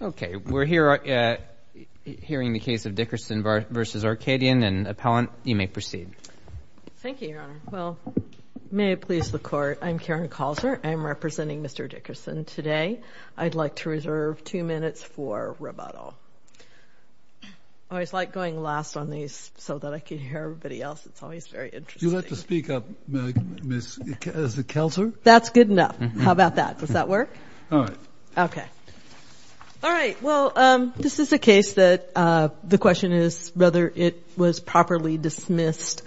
Okay, we're hearing the case of Dickerson v. Arcadian, and Appellant, you may proceed. Thank you, Your Honor. Well, may it please the Court, I'm Karen Calzer. I'm representing Mr. Dickerson today. I'd like to reserve two minutes for rebuttal. I always like going last on these so that I can hear everybody else. It's always very interesting. Do you like to speak up, Ms. Calzer? That's good enough. How about that? Does that work? All right. Well, this is a case that the question is whether it was properly dismissed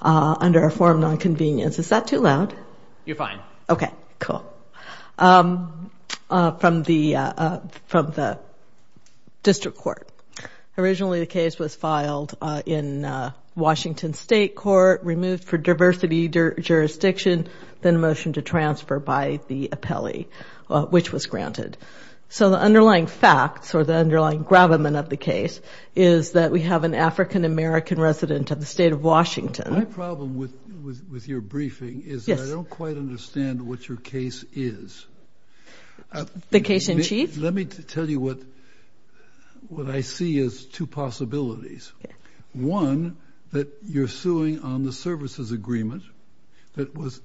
under a form of nonconvenience. Is that too loud? You're fine. Okay, cool. From the District Court. Originally, the case was filed in Washington State Court, removed for diversity jurisdiction, then a motion to transfer by the appellee, which was granted. So the underlying facts or the underlying gravamen of the case is that we have an African-American resident of the state of Washington. My problem with your briefing is that I don't quite understand what your case is. The case in chief? Let me tell you what I see as two possibilities. One, that you're suing on the services agreement that was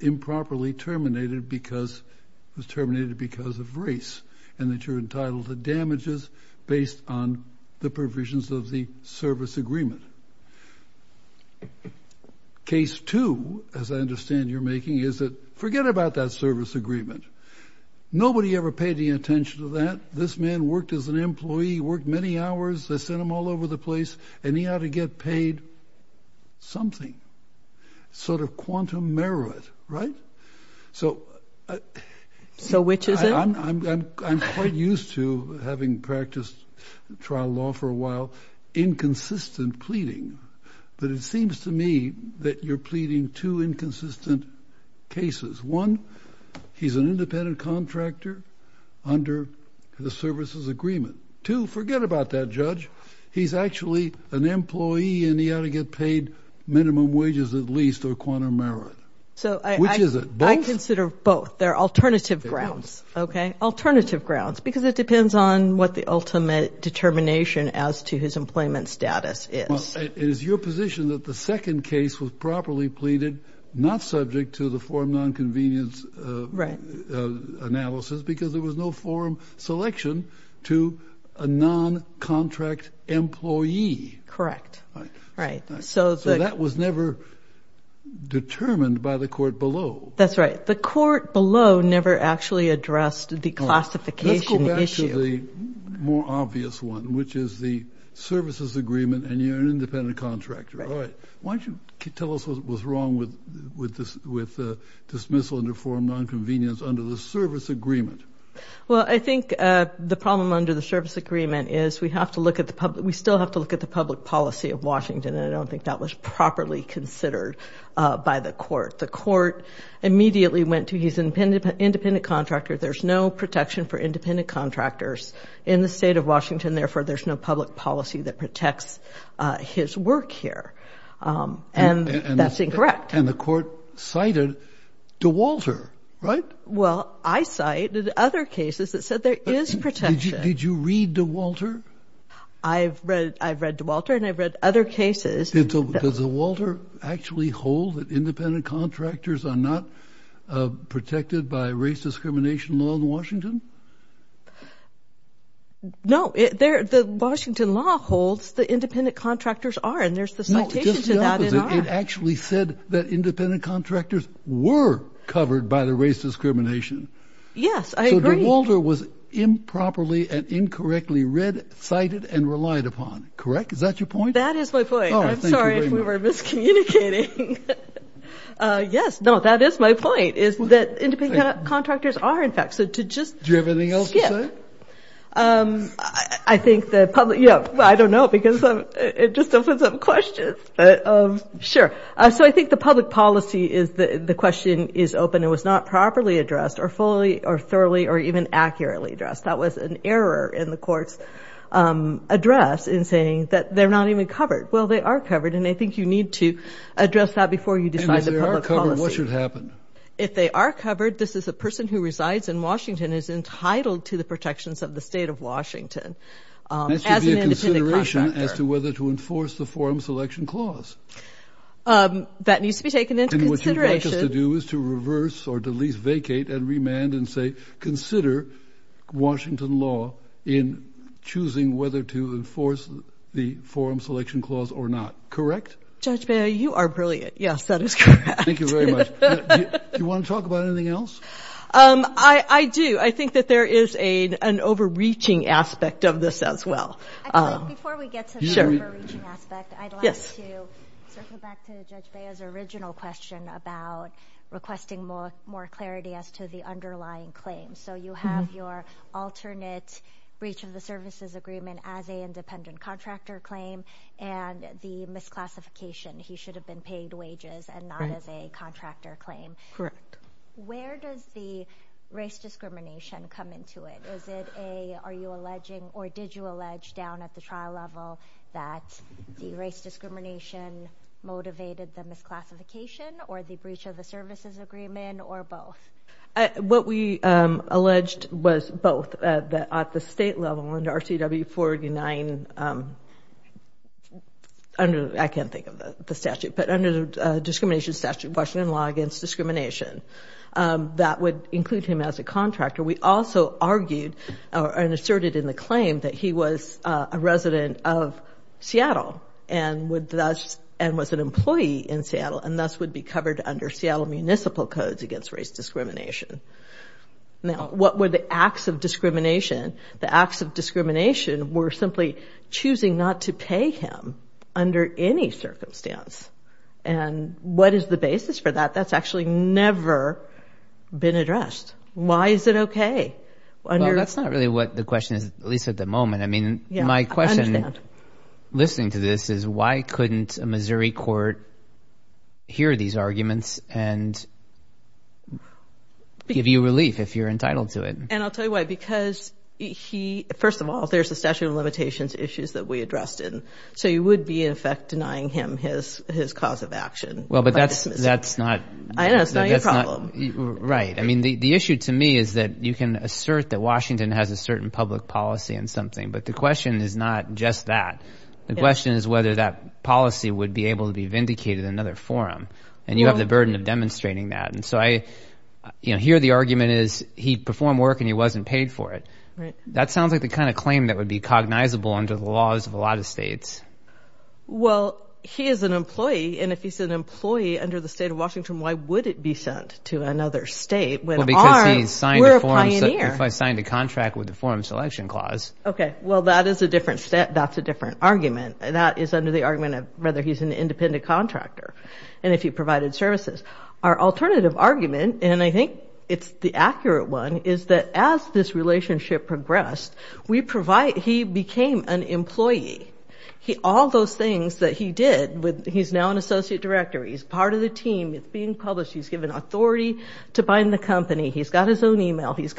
improperly terminated because it was terminated because of race and that you're entitled to damages based on the provisions of the service agreement. Case two, as I understand you're making, is that forget about that service agreement. Nobody ever paid any attention to that. This man worked as an employee, worked many hours, they sent him all over the place, and he ought to get paid something. Sort of quantum merit, right? So which is it? I'm quite used to having practiced trial law for a while, inconsistent pleading. But it seems to me that you're pleading two inconsistent cases. One, he's an independent contractor under the services agreement. Two, forget about that, Judge. He's actually an employee and he ought to get paid minimum wages at least or quantum merit. Which is it? I consider both. They're alternative grounds, okay? Alternative grounds because it depends on what the ultimate determination as to his employment status is. It is your position that the second case was properly pleaded, not subject to the forum non-convenience analysis because there was no forum selection to a non-contract employee. Correct. So that was never determined by the court below. That's right. The court below never actually addressed the classification issue. Let's get to the more obvious one, which is the services agreement and you're an independent contractor. All right. Why don't you tell us what's wrong with dismissal under forum non-convenience under the service agreement? Well, I think the problem under the service agreement is we still have to look at the public policy of Washington, and I don't think that was properly considered by the court. The court immediately went to he's an independent contractor. There's no protection for independent contractors in the state of Washington, therefore there's no public policy that protects his work here, and that's incorrect. And the court cited DeWalter, right? Well, I cited other cases that said there is protection. Did you read DeWalter? I've read DeWalter and I've read other cases. Does DeWalter actually hold that independent contractors are not protected by race discrimination law in Washington? No. The Washington law holds that independent contractors are, and there's the citation to that. No, just the opposite. It actually said that independent contractors were covered by the race discrimination. Yes, I agree. So DeWalter was improperly and incorrectly read, cited, and relied upon, correct? Is that your point? That is my point. I'm sorry if we were miscommunicating. Yes, no, that is my point, is that independent contractors are, in fact. So to just skip. Do you have anything else to say? I think the public, you know, I don't know because it just opens up questions. Sure. So I think the public policy is the question is open and was not properly addressed or fully or thoroughly or even accurately addressed. That was an error in the court's address in saying that they're not even covered. Well, they are covered, and I think you need to address that before you decide the public policy. And if they are covered, what should happen? If they are covered, this is a person who resides in Washington is entitled to the protections of the state of Washington. That should be a consideration as to whether to enforce the forum selection clause. That needs to be taken into consideration. What I'd like us to do is to reverse or at least vacate and remand and say, consider Washington law in choosing whether to enforce the forum selection clause or not. Correct? Judge Baio, you are brilliant. Yes, that is correct. Thank you very much. Do you want to talk about anything else? I do. I think that there is an overreaching aspect of this as well. Before we get to the overreaching aspect, I'd like to circle back to Judge Baio's original question about requesting more clarity as to the underlying claims. So you have your alternate breach of the services agreement as a independent contractor claim and the misclassification, he should have been paid wages and not as a contractor claim. Correct. Where does the race discrimination come into it? Are you alleging or did you allege down at the trial level that the race discrimination motivated the misclassification or the breach of the services agreement or both? What we alleged was both. At the state level under RCW 49, I can't think of the statute, but under the discrimination statute, Washington law against discrimination, that would include him as a contractor. We also argued and asserted in the claim that he was a resident of Seattle and was an employee in Seattle and thus would be covered under Seattle Municipal Codes against race discrimination. Now, what were the acts of discrimination? The acts of discrimination were simply choosing not to pay him under any circumstance. And what is the basis for that? That's actually never been addressed. Why is it okay? Well, that's not really what the question is, at least at the moment. My question, listening to this, is why couldn't a Missouri court hear these arguments and give you relief if you're entitled to it? And I'll tell you why. Because, first of all, there's a statute of limitations issues that we addressed it, so you would be, in effect, denying him his cause of action. Well, but that's not your problem. Right. I mean, the issue to me is that you can assert that Washington has a certain public policy and something, but the question is not just that. The question is whether that policy would be able to be vindicated in another forum, and you have the burden of demonstrating that. And so I hear the argument is he performed work and he wasn't paid for it. That sounds like the kind of claim that would be cognizable under the laws of a lot of states. Well, he is an employee, and if he's an employee under the state of Washington, why would it be sent to another state when arms were a pioneer? Well, because he signed a contract with the Forum Selection Clause. Okay. Well, that is a different argument. That is under the argument of whether he's an independent contractor and if he provided services. Our alternative argument, and I think it's the accurate one, is that as this relationship progressed, he became an employee. All those things that he did, he's now an associate director, he's part of the team, it's being published, he's given authority to bind the company, he's got his own e-mail, he's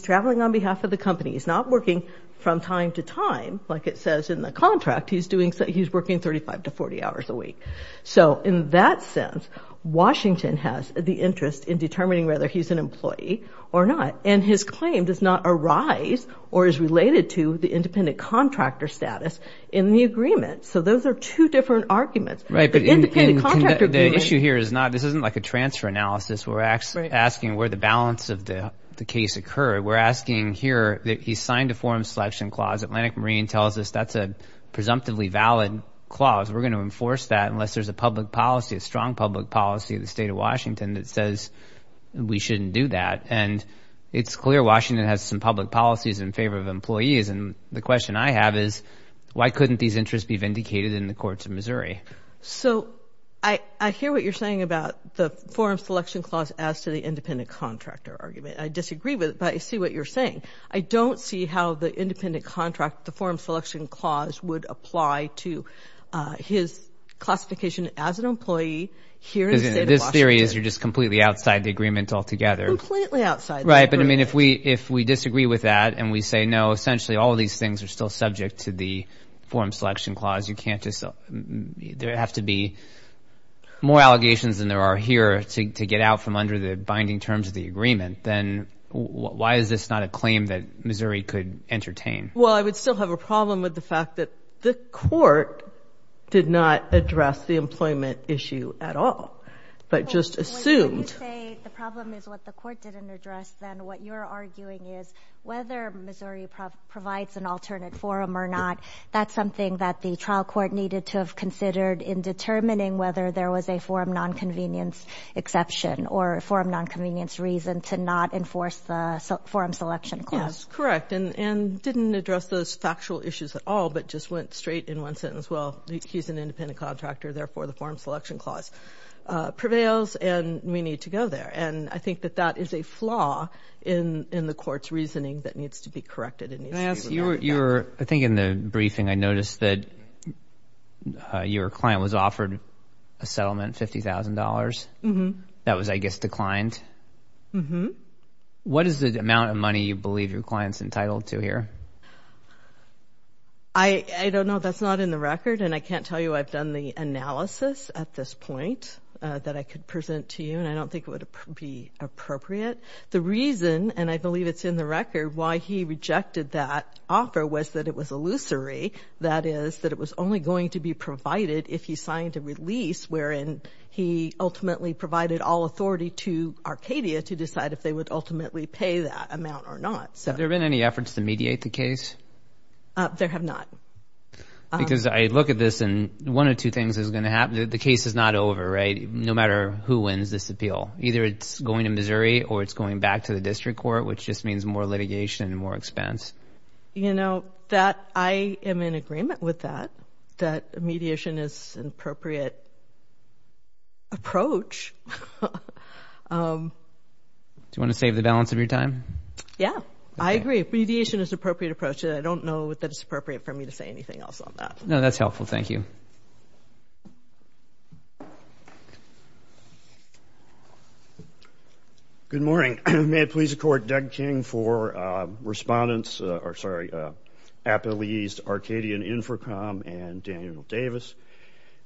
traveling on behalf of the company, he's not working from time to time, like it says in the contract, he's working 35 to 40 hours a week. So in that sense, Washington has the interest in determining whether he's an employee or not, and his claim does not arise or is related to the independent contractor status in the agreement. So those are two different arguments. Right, but the issue here is not, this isn't like a transfer analysis where we're asking where the balance of the case occurred. We're asking here that he signed a Forum Selection Clause. Atlantic Marine tells us that's a presumptively valid clause. We're going to enforce that unless there's a public policy, a strong public policy of the state of Washington that says we shouldn't do that. And it's clear Washington has some public policies in favor of employees, and the question I have is why couldn't these interests be vindicated in the courts of Missouri? So I hear what you're saying about the Forum Selection Clause as to the independent contractor argument. I disagree with it, but I see what you're saying. I don't see how the independent contract, the Forum Selection Clause, would apply to his classification as an employee here in the state of Washington. This theory is you're just completely outside the agreement altogether. Completely outside the agreement. Right, but, I mean, if we disagree with that and we say, no, essentially all of these things are still subject to the Forum Selection Clause, you can't just, there have to be more allegations than there are here to get out from under the binding terms of the agreement, then why is this not a claim that Missouri could entertain? Well, I would still have a problem with the fact that the court did not address the employment issue at all, but just assumed. If you say the problem is what the court didn't address, then what you're arguing is whether Missouri provides an alternate forum or not, that's something that the trial court needed to have considered in determining whether there was a forum nonconvenience exception or forum nonconvenience reason to not enforce the Forum Selection Clause. Yes, correct, and didn't address those factual issues at all, but just went straight in one sentence, well, he's an independent contractor, therefore the Forum Selection Clause prevails and we need to go there, and I think that that is a flaw in the court's reasoning that needs to be corrected and needs to be revoked. I think in the briefing I noticed that your client was offered a settlement, $50,000. That was, I guess, declined. What is the amount of money you believe your client is entitled to here? I don't know. That's not in the record, and I can't tell you I've done the analysis at this point that I could present to you, and I don't think it would be appropriate. The reason, and I believe it's in the record, why he rejected that offer was that it was illusory, that is that it was only going to be provided if he signed a release wherein he ultimately provided all authority to Arcadia to decide if they would ultimately pay that amount or not. Have there been any efforts to mediate the case? There have not. Because I look at this, and one of two things is going to happen. The case is not over, right, no matter who wins this appeal. Either it's going to Missouri or it's going back to the district court, which just means more litigation and more expense. You know, I am in agreement with that, that mediation is an appropriate approach. Do you want to save the balance of your time? Yeah, I agree. I think mediation is an appropriate approach, and I don't know that it's appropriate for me to say anything else on that. No, that's helpful. Thank you. Good morning. May it please the Court, Doug King for respondents, or sorry, appellees to Arcadian Infracom and Daniel Davis.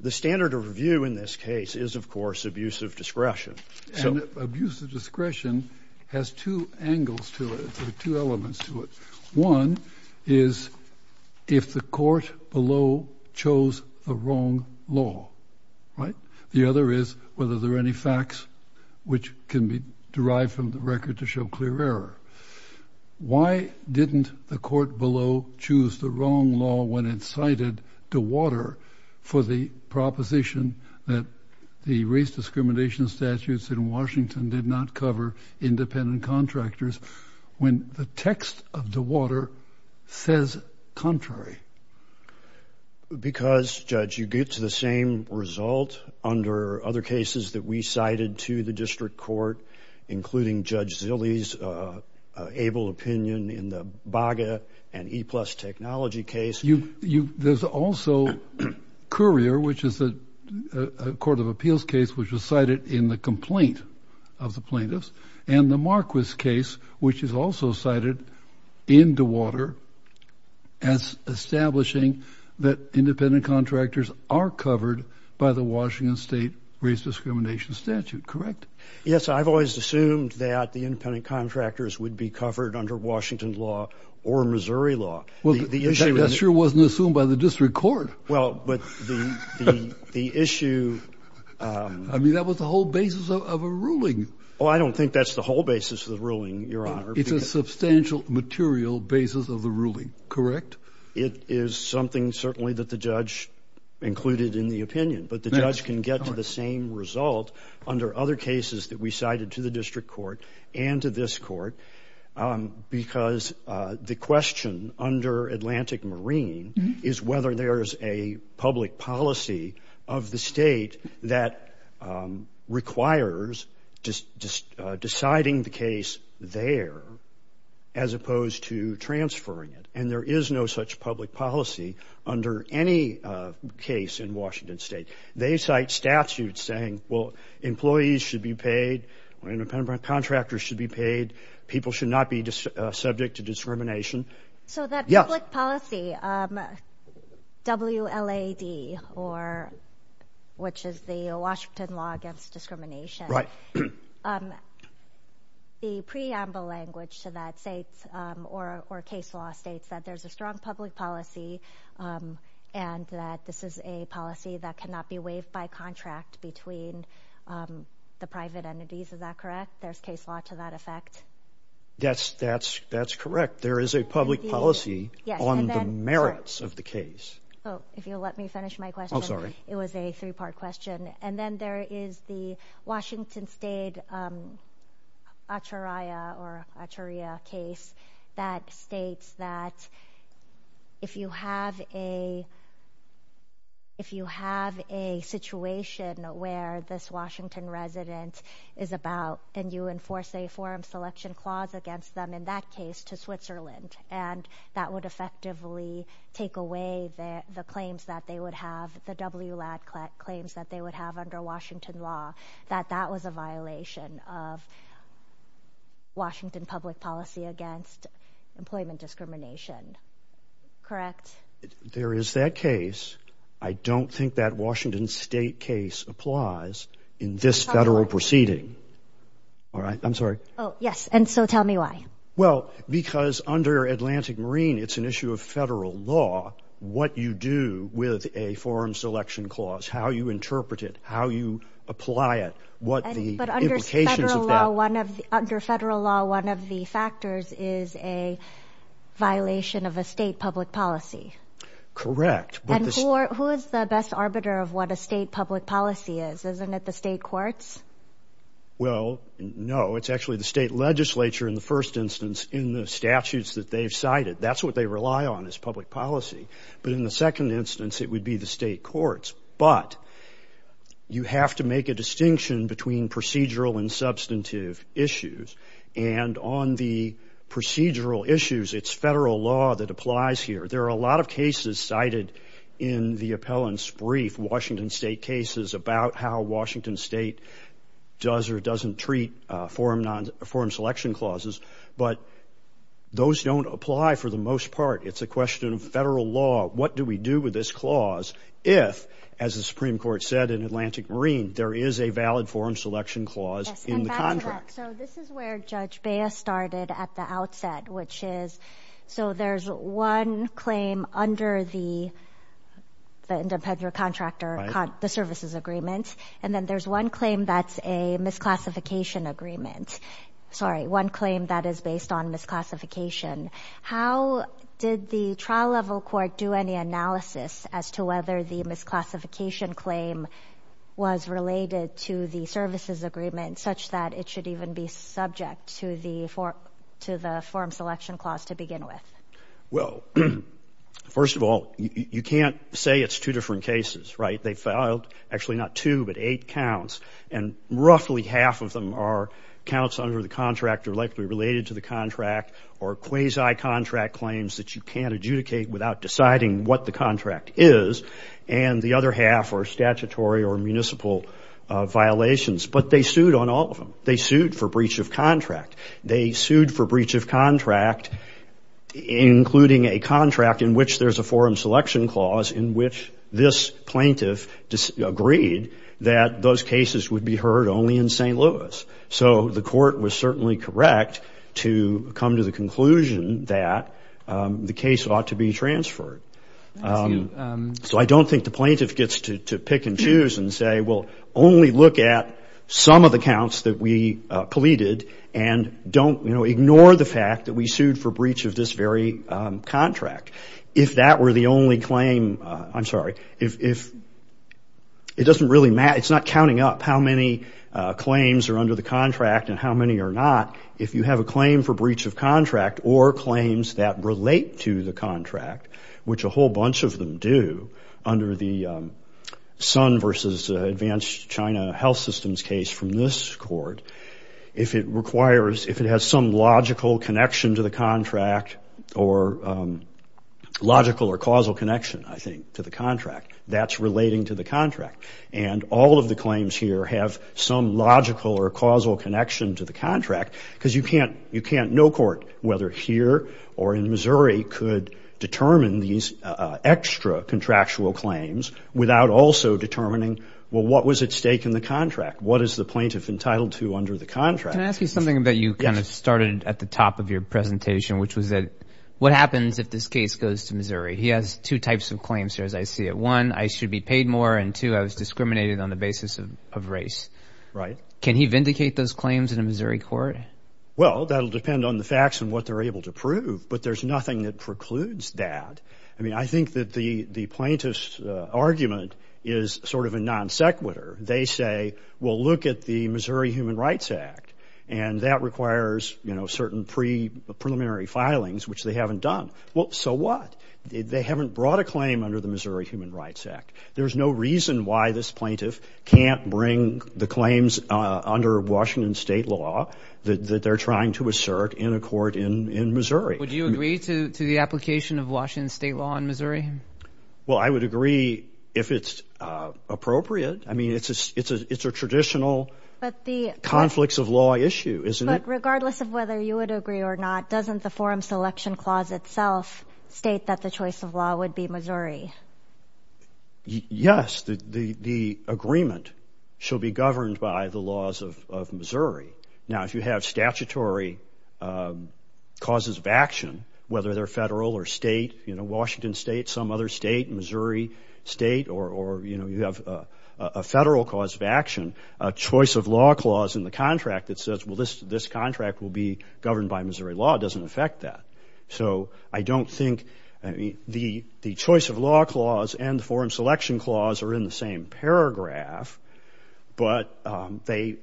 The standard of review in this case is, of course, abusive discretion. And abusive discretion has two angles to it or two elements to it. One is if the court below chose the wrong law, right? The other is whether there are any facts which can be derived from the record to show clear error. Why didn't the court below choose the wrong law when it's cited to water for the proposition that the race discrimination statutes in Washington did not cover independent contractors when the text of the water says contrary? Because, Judge, you get to the same result under other cases that we cited to the district court, including Judge Zilley's able opinion in the BAGA and E-Plus technology case. There's also Currier, which is a court of appeals case, which was cited in the complaint of the plaintiffs, and the Marquis case, which is also cited in DeWater as establishing that independent contractors are covered by the Washington state race discrimination statute, correct? Yes, I've always assumed that the independent contractors would be covered under Washington law or Missouri law. Well, that sure wasn't assumed by the district court. Well, but the issue— I mean, that was the whole basis of a ruling. Oh, I don't think that's the whole basis of the ruling, Your Honor. It's a substantial material basis of the ruling, correct? It is something certainly that the judge included in the opinion, but the judge can get to the same result under other cases that we cited to the district court and to this court because the question under Atlantic Marine is whether there is a public policy of the state that requires deciding the case there as opposed to transferring it, and there is no such public policy under any case in Washington state. They cite statutes saying, well, employees should be paid, independent contractors should be paid, people should not be subject to discrimination. So that public policy, WLAD, which is the Washington Law Against Discrimination, the preamble language to that state or case law states that there's a strong public policy and that this is a policy that cannot be waived by contract between the private entities, is that correct? There's case law to that effect? Yes, that's correct. There is a public policy on the merits of the case. Oh, if you'll let me finish my question. Oh, sorry. It was a three-part question. And then there is the Washington State Acharya case that states that if you have a situation where this Washington resident is about and you enforce a forum selection clause against them, in that case, to Switzerland, and that would effectively take away the claims that they would have, the WLAD claims that they would have under Washington law, that that was a violation of Washington public policy against employment discrimination, correct? There is that case. I don't think that Washington state case applies in this federal proceeding. All right. I'm sorry. Oh, yes. And so tell me why. Well, because under Atlantic Marine, it's an issue of federal law, what you do with a forum selection clause, how you interpret it, how you apply it, what the implications of that. But under federal law, one of the factors is a violation of a state public policy. Correct. And who is the best arbiter of what a state public policy is? Isn't it the state courts? Well, no. It's actually the state legislature in the first instance in the statutes that they've cited. That's what they rely on is public policy. But in the second instance, it would be the state courts. But you have to make a distinction between procedural and substantive issues. And on the procedural issues, it's federal law that applies here. There are a lot of cases cited in the appellant's brief, Washington state cases, about how Washington state does or doesn't treat forum selection clauses. But those don't apply for the most part. It's a question of federal law. What do we do with this clause if, as the Supreme Court said in Atlantic Marine, there is a valid forum selection clause in the contract? So this is where Judge Baez started at the outset, which is, so there's one claim under the independent contractor, the services agreement. And then there's one claim that's a misclassification agreement. Sorry, one claim that is based on misclassification. How did the trial level court do any analysis as to whether the misclassification claim was related to the services agreement such that it should even be subject to the forum selection clause to begin with? Well, first of all, you can't say it's two different cases, right? They filed actually not two, but eight counts. And roughly half of them are counts under the contract or likely related to the contract or quasi-contract claims that you can't adjudicate without deciding what the contract is. And the other half are statutory or municipal violations. But they sued on all of them. They sued for breach of contract. They sued for breach of contract, including a contract in which there's a forum selection clause in which this plaintiff agreed that those cases would be heard only in St. Louis. So the court was certainly correct to come to the conclusion that the case ought to be transferred. So I don't think the plaintiff gets to pick and choose and say, well, only look at some of the counts that we pleaded and don't, you know, ignore the fact that we sued for breach of this very contract. If that were the only claim, I'm sorry, if it doesn't really matter. It's not counting up how many claims are under the contract and how many are not. If you have a claim for breach of contract or claims that relate to the contract, which a whole bunch of them do under the Sun versus Advanced China Health Systems case from this court, if it requires, if it has some logical connection to the contract or logical or causal connection, I think, to the contract, that's relating to the contract. And all of the claims here have some logical or causal connection to the contract because you can't, no court, whether here or in Missouri, could determine these extra contractual claims without also determining, well, what was at stake in the contract? What is the plaintiff entitled to under the contract? Can I ask you something that you kind of started at the top of your presentation, which was that what happens if this case goes to Missouri? He has two types of claims here, as I see it. One, I should be paid more, and two, I was discriminated on the basis of race. Right. Can he vindicate those claims in a Missouri court? Well, that will depend on the facts and what they're able to prove, but there's nothing that precludes that. I mean, I think that the plaintiff's argument is sort of a non sequitur. They say, well, look at the Missouri Human Rights Act, and that requires, you know, certain preliminary filings, which they haven't done. Well, so what? They haven't brought a claim under the Missouri Human Rights Act. There's no reason why this plaintiff can't bring the claims under Washington state law that they're trying to assert in a court in Missouri. Would you agree to the application of Washington state law in Missouri? Well, I would agree if it's appropriate. I mean, it's a traditional conflicts of law issue, isn't it? But regardless of whether you would agree or not, doesn't the forum selection clause itself state that the choice of law would be Missouri? Yes. The agreement shall be governed by the laws of Missouri. Now, if you have statutory causes of action, whether they're federal or state, you know, Washington state, some other state, Missouri state, or, you know, you have a federal cause of action, a choice of law clause in the contract that says, well, this contract will be governed by Missouri law, it doesn't affect that. So I don't think the choice of law clause and the forum selection clause are in the same paragraph, but they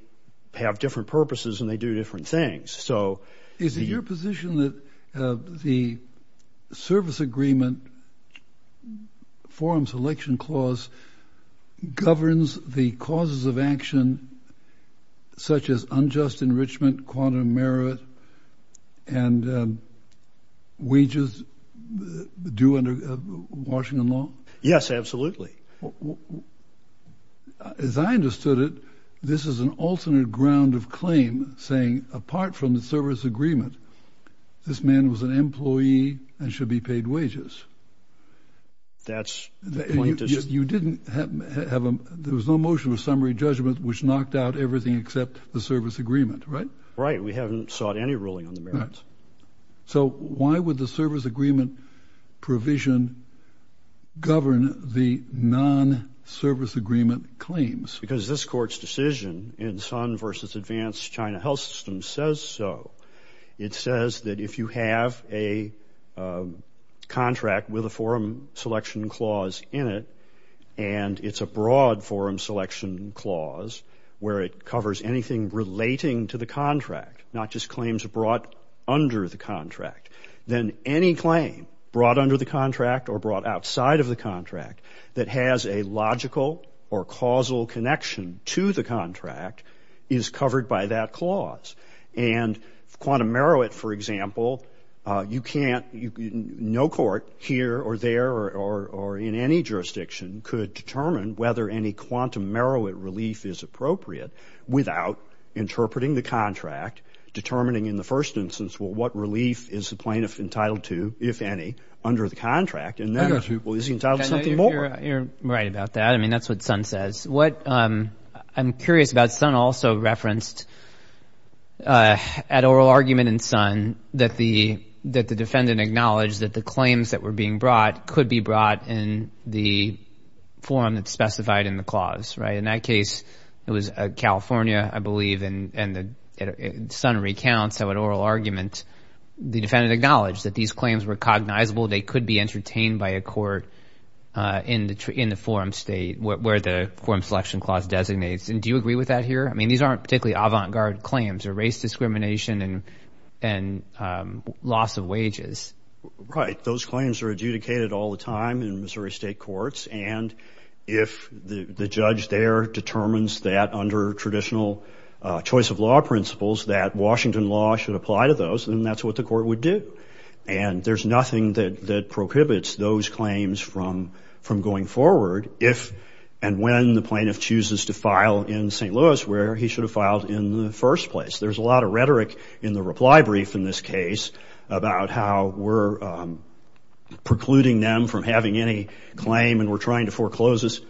have different purposes and they do different things. Is it your position that the service agreement, forum selection clause, governs the causes of action such as unjust enrichment, quantum merit, and wages due under Washington law? Yes, absolutely. As I understood it, this is an alternate ground of claim saying apart from the service agreement, this man was an employee and should be paid wages. That's the point. There was no motion of summary judgment which knocked out everything except the service agreement, right? Right. We haven't sought any ruling on the merits. So why would the service agreement provision govern the non-service agreement claims? Because this court's decision in Sun v. Advanced China Health System says so. It says that if you have a contract with a forum selection clause in it and it's a broad forum selection clause where it covers anything relating to the contract, not just claims brought under the contract, then any claim brought under the contract or brought outside of the contract that has a logical or causal connection to the contract is covered by that clause. And quantum merit, for example, you can't, no court here or there or in any jurisdiction could determine whether any quantum merit relief is appropriate without interpreting the contract, determining in the first instance what relief is the plaintiff entitled to, if any, under the contract. And then is he entitled to something more? You're right about that. I mean, that's what Sun says. What I'm curious about, Sun also referenced, at oral argument in Sun, that the defendant acknowledged that the claims that were being brought could be brought in the forum that's specified in the clause, right? In that case, it was California, I believe, and Sun recounts how at oral argument the defendant acknowledged that these claims were cognizable. They could be entertained by a court in the forum state where the forum selection clause designates. And do you agree with that here? I mean, these aren't particularly avant-garde claims or race discrimination and loss of wages. Right. Those claims are adjudicated all the time in Missouri State courts. And if the judge there determines that under traditional choice of law principles that Washington law should apply to those, then that's what the court would do. And there's nothing that prohibits those claims from going forward if and when the plaintiff chooses to file in St. Louis, where he should have filed in the first place. There's a lot of rhetoric in the reply brief in this case about how we're precluding them from having any claim and we're trying to foreclose this.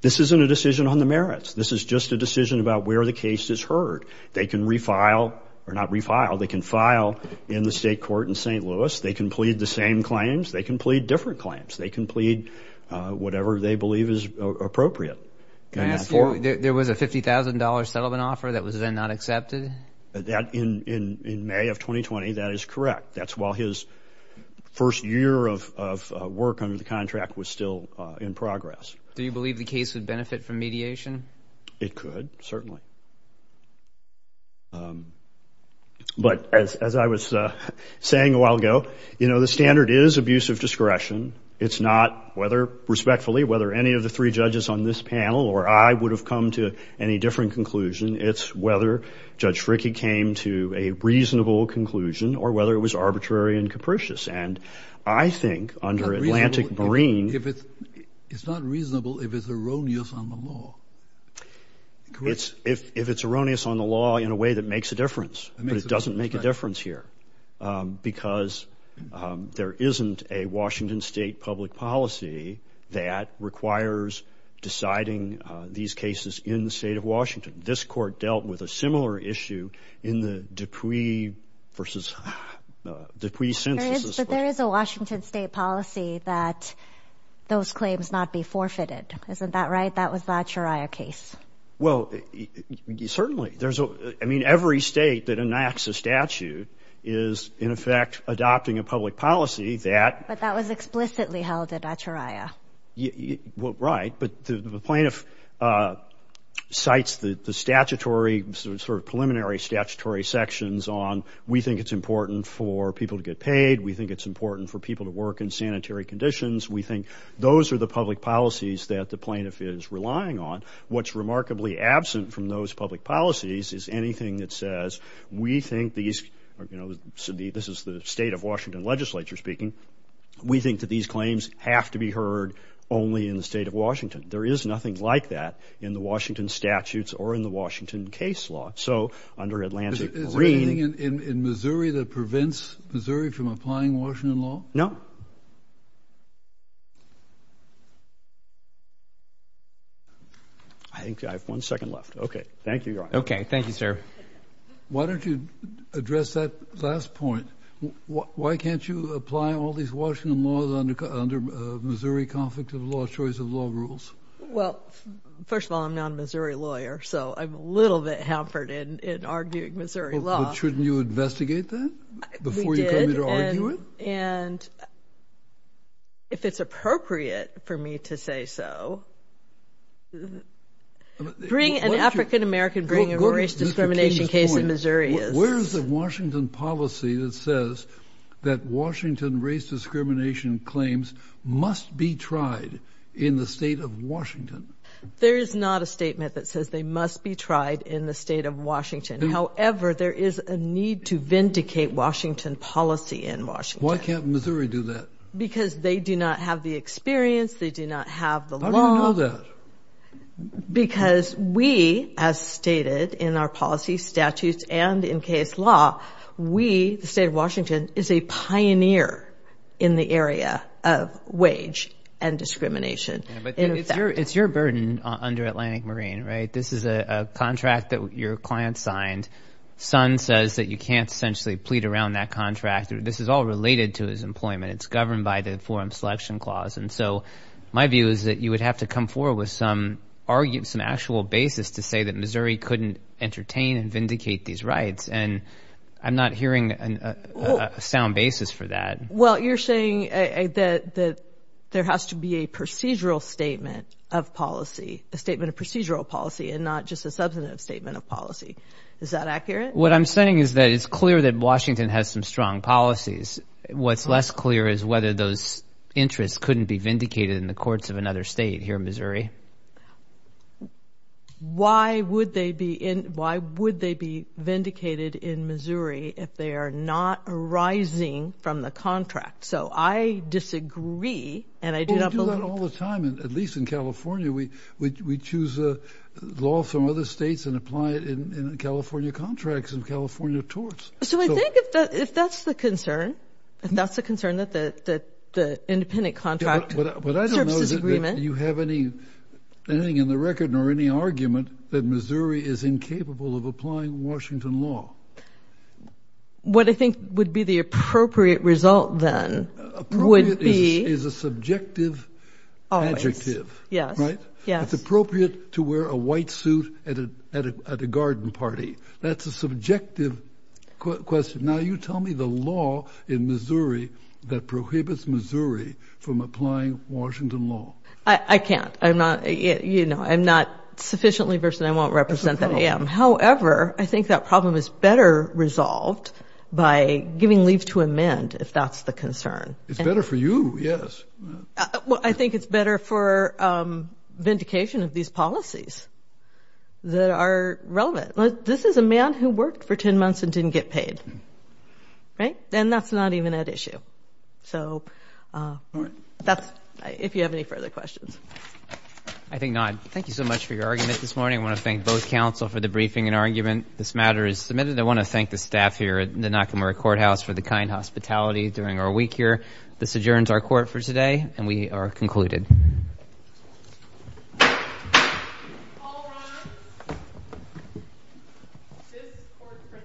This isn't a decision on the merits. This is just a decision about where the case is heard. They can refile or not refile. They can file in the state court in St. Louis. They can plead the same claims. They can plead different claims. They can plead whatever they believe is appropriate. Can I ask you, there was a $50,000 settlement offer that was then not accepted? In May of 2020, that is correct. That's while his first year of work under the contract was still in progress. Do you believe the case would benefit from mediation? It could, certainly. But as I was saying a while ago, you know, the standard is abuse of discretion. It's not whether respectfully, whether any of the three judges on this panel or I would have come to any different conclusion. It's whether Judge Fricke came to a reasonable conclusion or whether it was arbitrary and capricious. And I think under Atlantic Marine. It's not reasonable if it's erroneous on the law. If it's erroneous on the law in a way that makes a difference. But it doesn't make a difference here. Because there isn't a Washington State public policy that requires deciding these cases in the state of Washington. This court dealt with a similar issue in the Dupuy versus Dupuy census. But there is a Washington State policy that those claims not be forfeited. Isn't that right? But that was the Achiraya case. Well, certainly. I mean, every state that enacts a statute is in effect adopting a public policy that... But that was explicitly held at Achiraya. Right. But the plaintiff cites the statutory, sort of preliminary statutory sections on we think it's important for people to get paid. We think it's important for people to work in sanitary conditions. We think those are the public policies that the plaintiff is relying on. What's remarkably absent from those public policies is anything that says, we think these... This is the state of Washington legislature speaking. We think that these claims have to be heard only in the state of Washington. There is nothing like that in the Washington statutes or in the Washington case law. So under Atlantic Marine... Is there anything in Missouri that prevents Missouri from applying Washington law? No. I think I have one second left. Thank you, Your Honor. Okay. Thank you, sir. Why don't you address that last point? Why can't you apply all these Washington laws under Missouri Conflict of Law, Choice of Law rules? Well, first of all, I'm not a Missouri lawyer, so I'm a little bit hampered in arguing Missouri law. But shouldn't you investigate that before you come here to argue it? And if it's appropriate for me to say so... Bring an African American... Bring a race discrimination case in Missouri. Where is the Washington policy that says that Washington race discrimination claims must be tried in the state of Washington? There is not a statement that says they must be tried in the state of Washington. However, there is a need to vindicate Washington policy in Washington. Why can't Missouri do that? Because they do not have the experience. They do not have the law. How do you know that? Because we, as stated in our policy statutes and in case law, we, the state of Washington, is a pioneer in the area of wage and discrimination. It's your burden under Atlantic Marine, right? This is a contract that your client signed. Son says that you can't essentially plead around that contract. This is all related to his employment. It's governed by the Forum Selection Clause. And so my view is that you would have to come forward with some actual basis to say that Missouri couldn't entertain and vindicate these rights. And I'm not hearing a sound basis for that. Well, you're saying that there has to be a procedural statement of policy, a statement of procedural policy, and not just a substantive statement of policy. Is that accurate? What I'm saying is that it's clear that Washington has some strong policies. What's less clear is whether those interests couldn't be vindicated in the courts of another state here in Missouri. Why would they be vindicated in Missouri if they are not arising from the contract? So I disagree, and I do not believe that. Well, we do that all the time, at least in California. We choose a law from other states and apply it in California contracts and California torts. So I think if that's the concern, if that's the concern, that the independent contract services agreement. But I don't know that you have anything in the record nor any argument that Missouri is incapable of applying Washington law. What I think would be the appropriate result then would be— It's appropriate to wear a white suit at a garden party. That's a subjective question. Now, you tell me the law in Missouri that prohibits Missouri from applying Washington law. I can't. I'm not sufficiently versed, and I won't represent that I am. However, I think that problem is better resolved by giving leave to amend, if that's the concern. It's better for you, yes. Well, I think it's better for vindication of these policies that are relevant. This is a man who worked for 10 months and didn't get paid, right? And that's not even at issue. So that's—if you have any further questions. I think not. Thank you so much for your argument this morning. I want to thank both counsel for the briefing and argument. This matter is submitted. I want to thank the staff here at the Nakamura Courthouse for the kind hospitality during our week here. This adjourns our court for today, and we are concluded. All rise. This court for this hearing stands adjourned.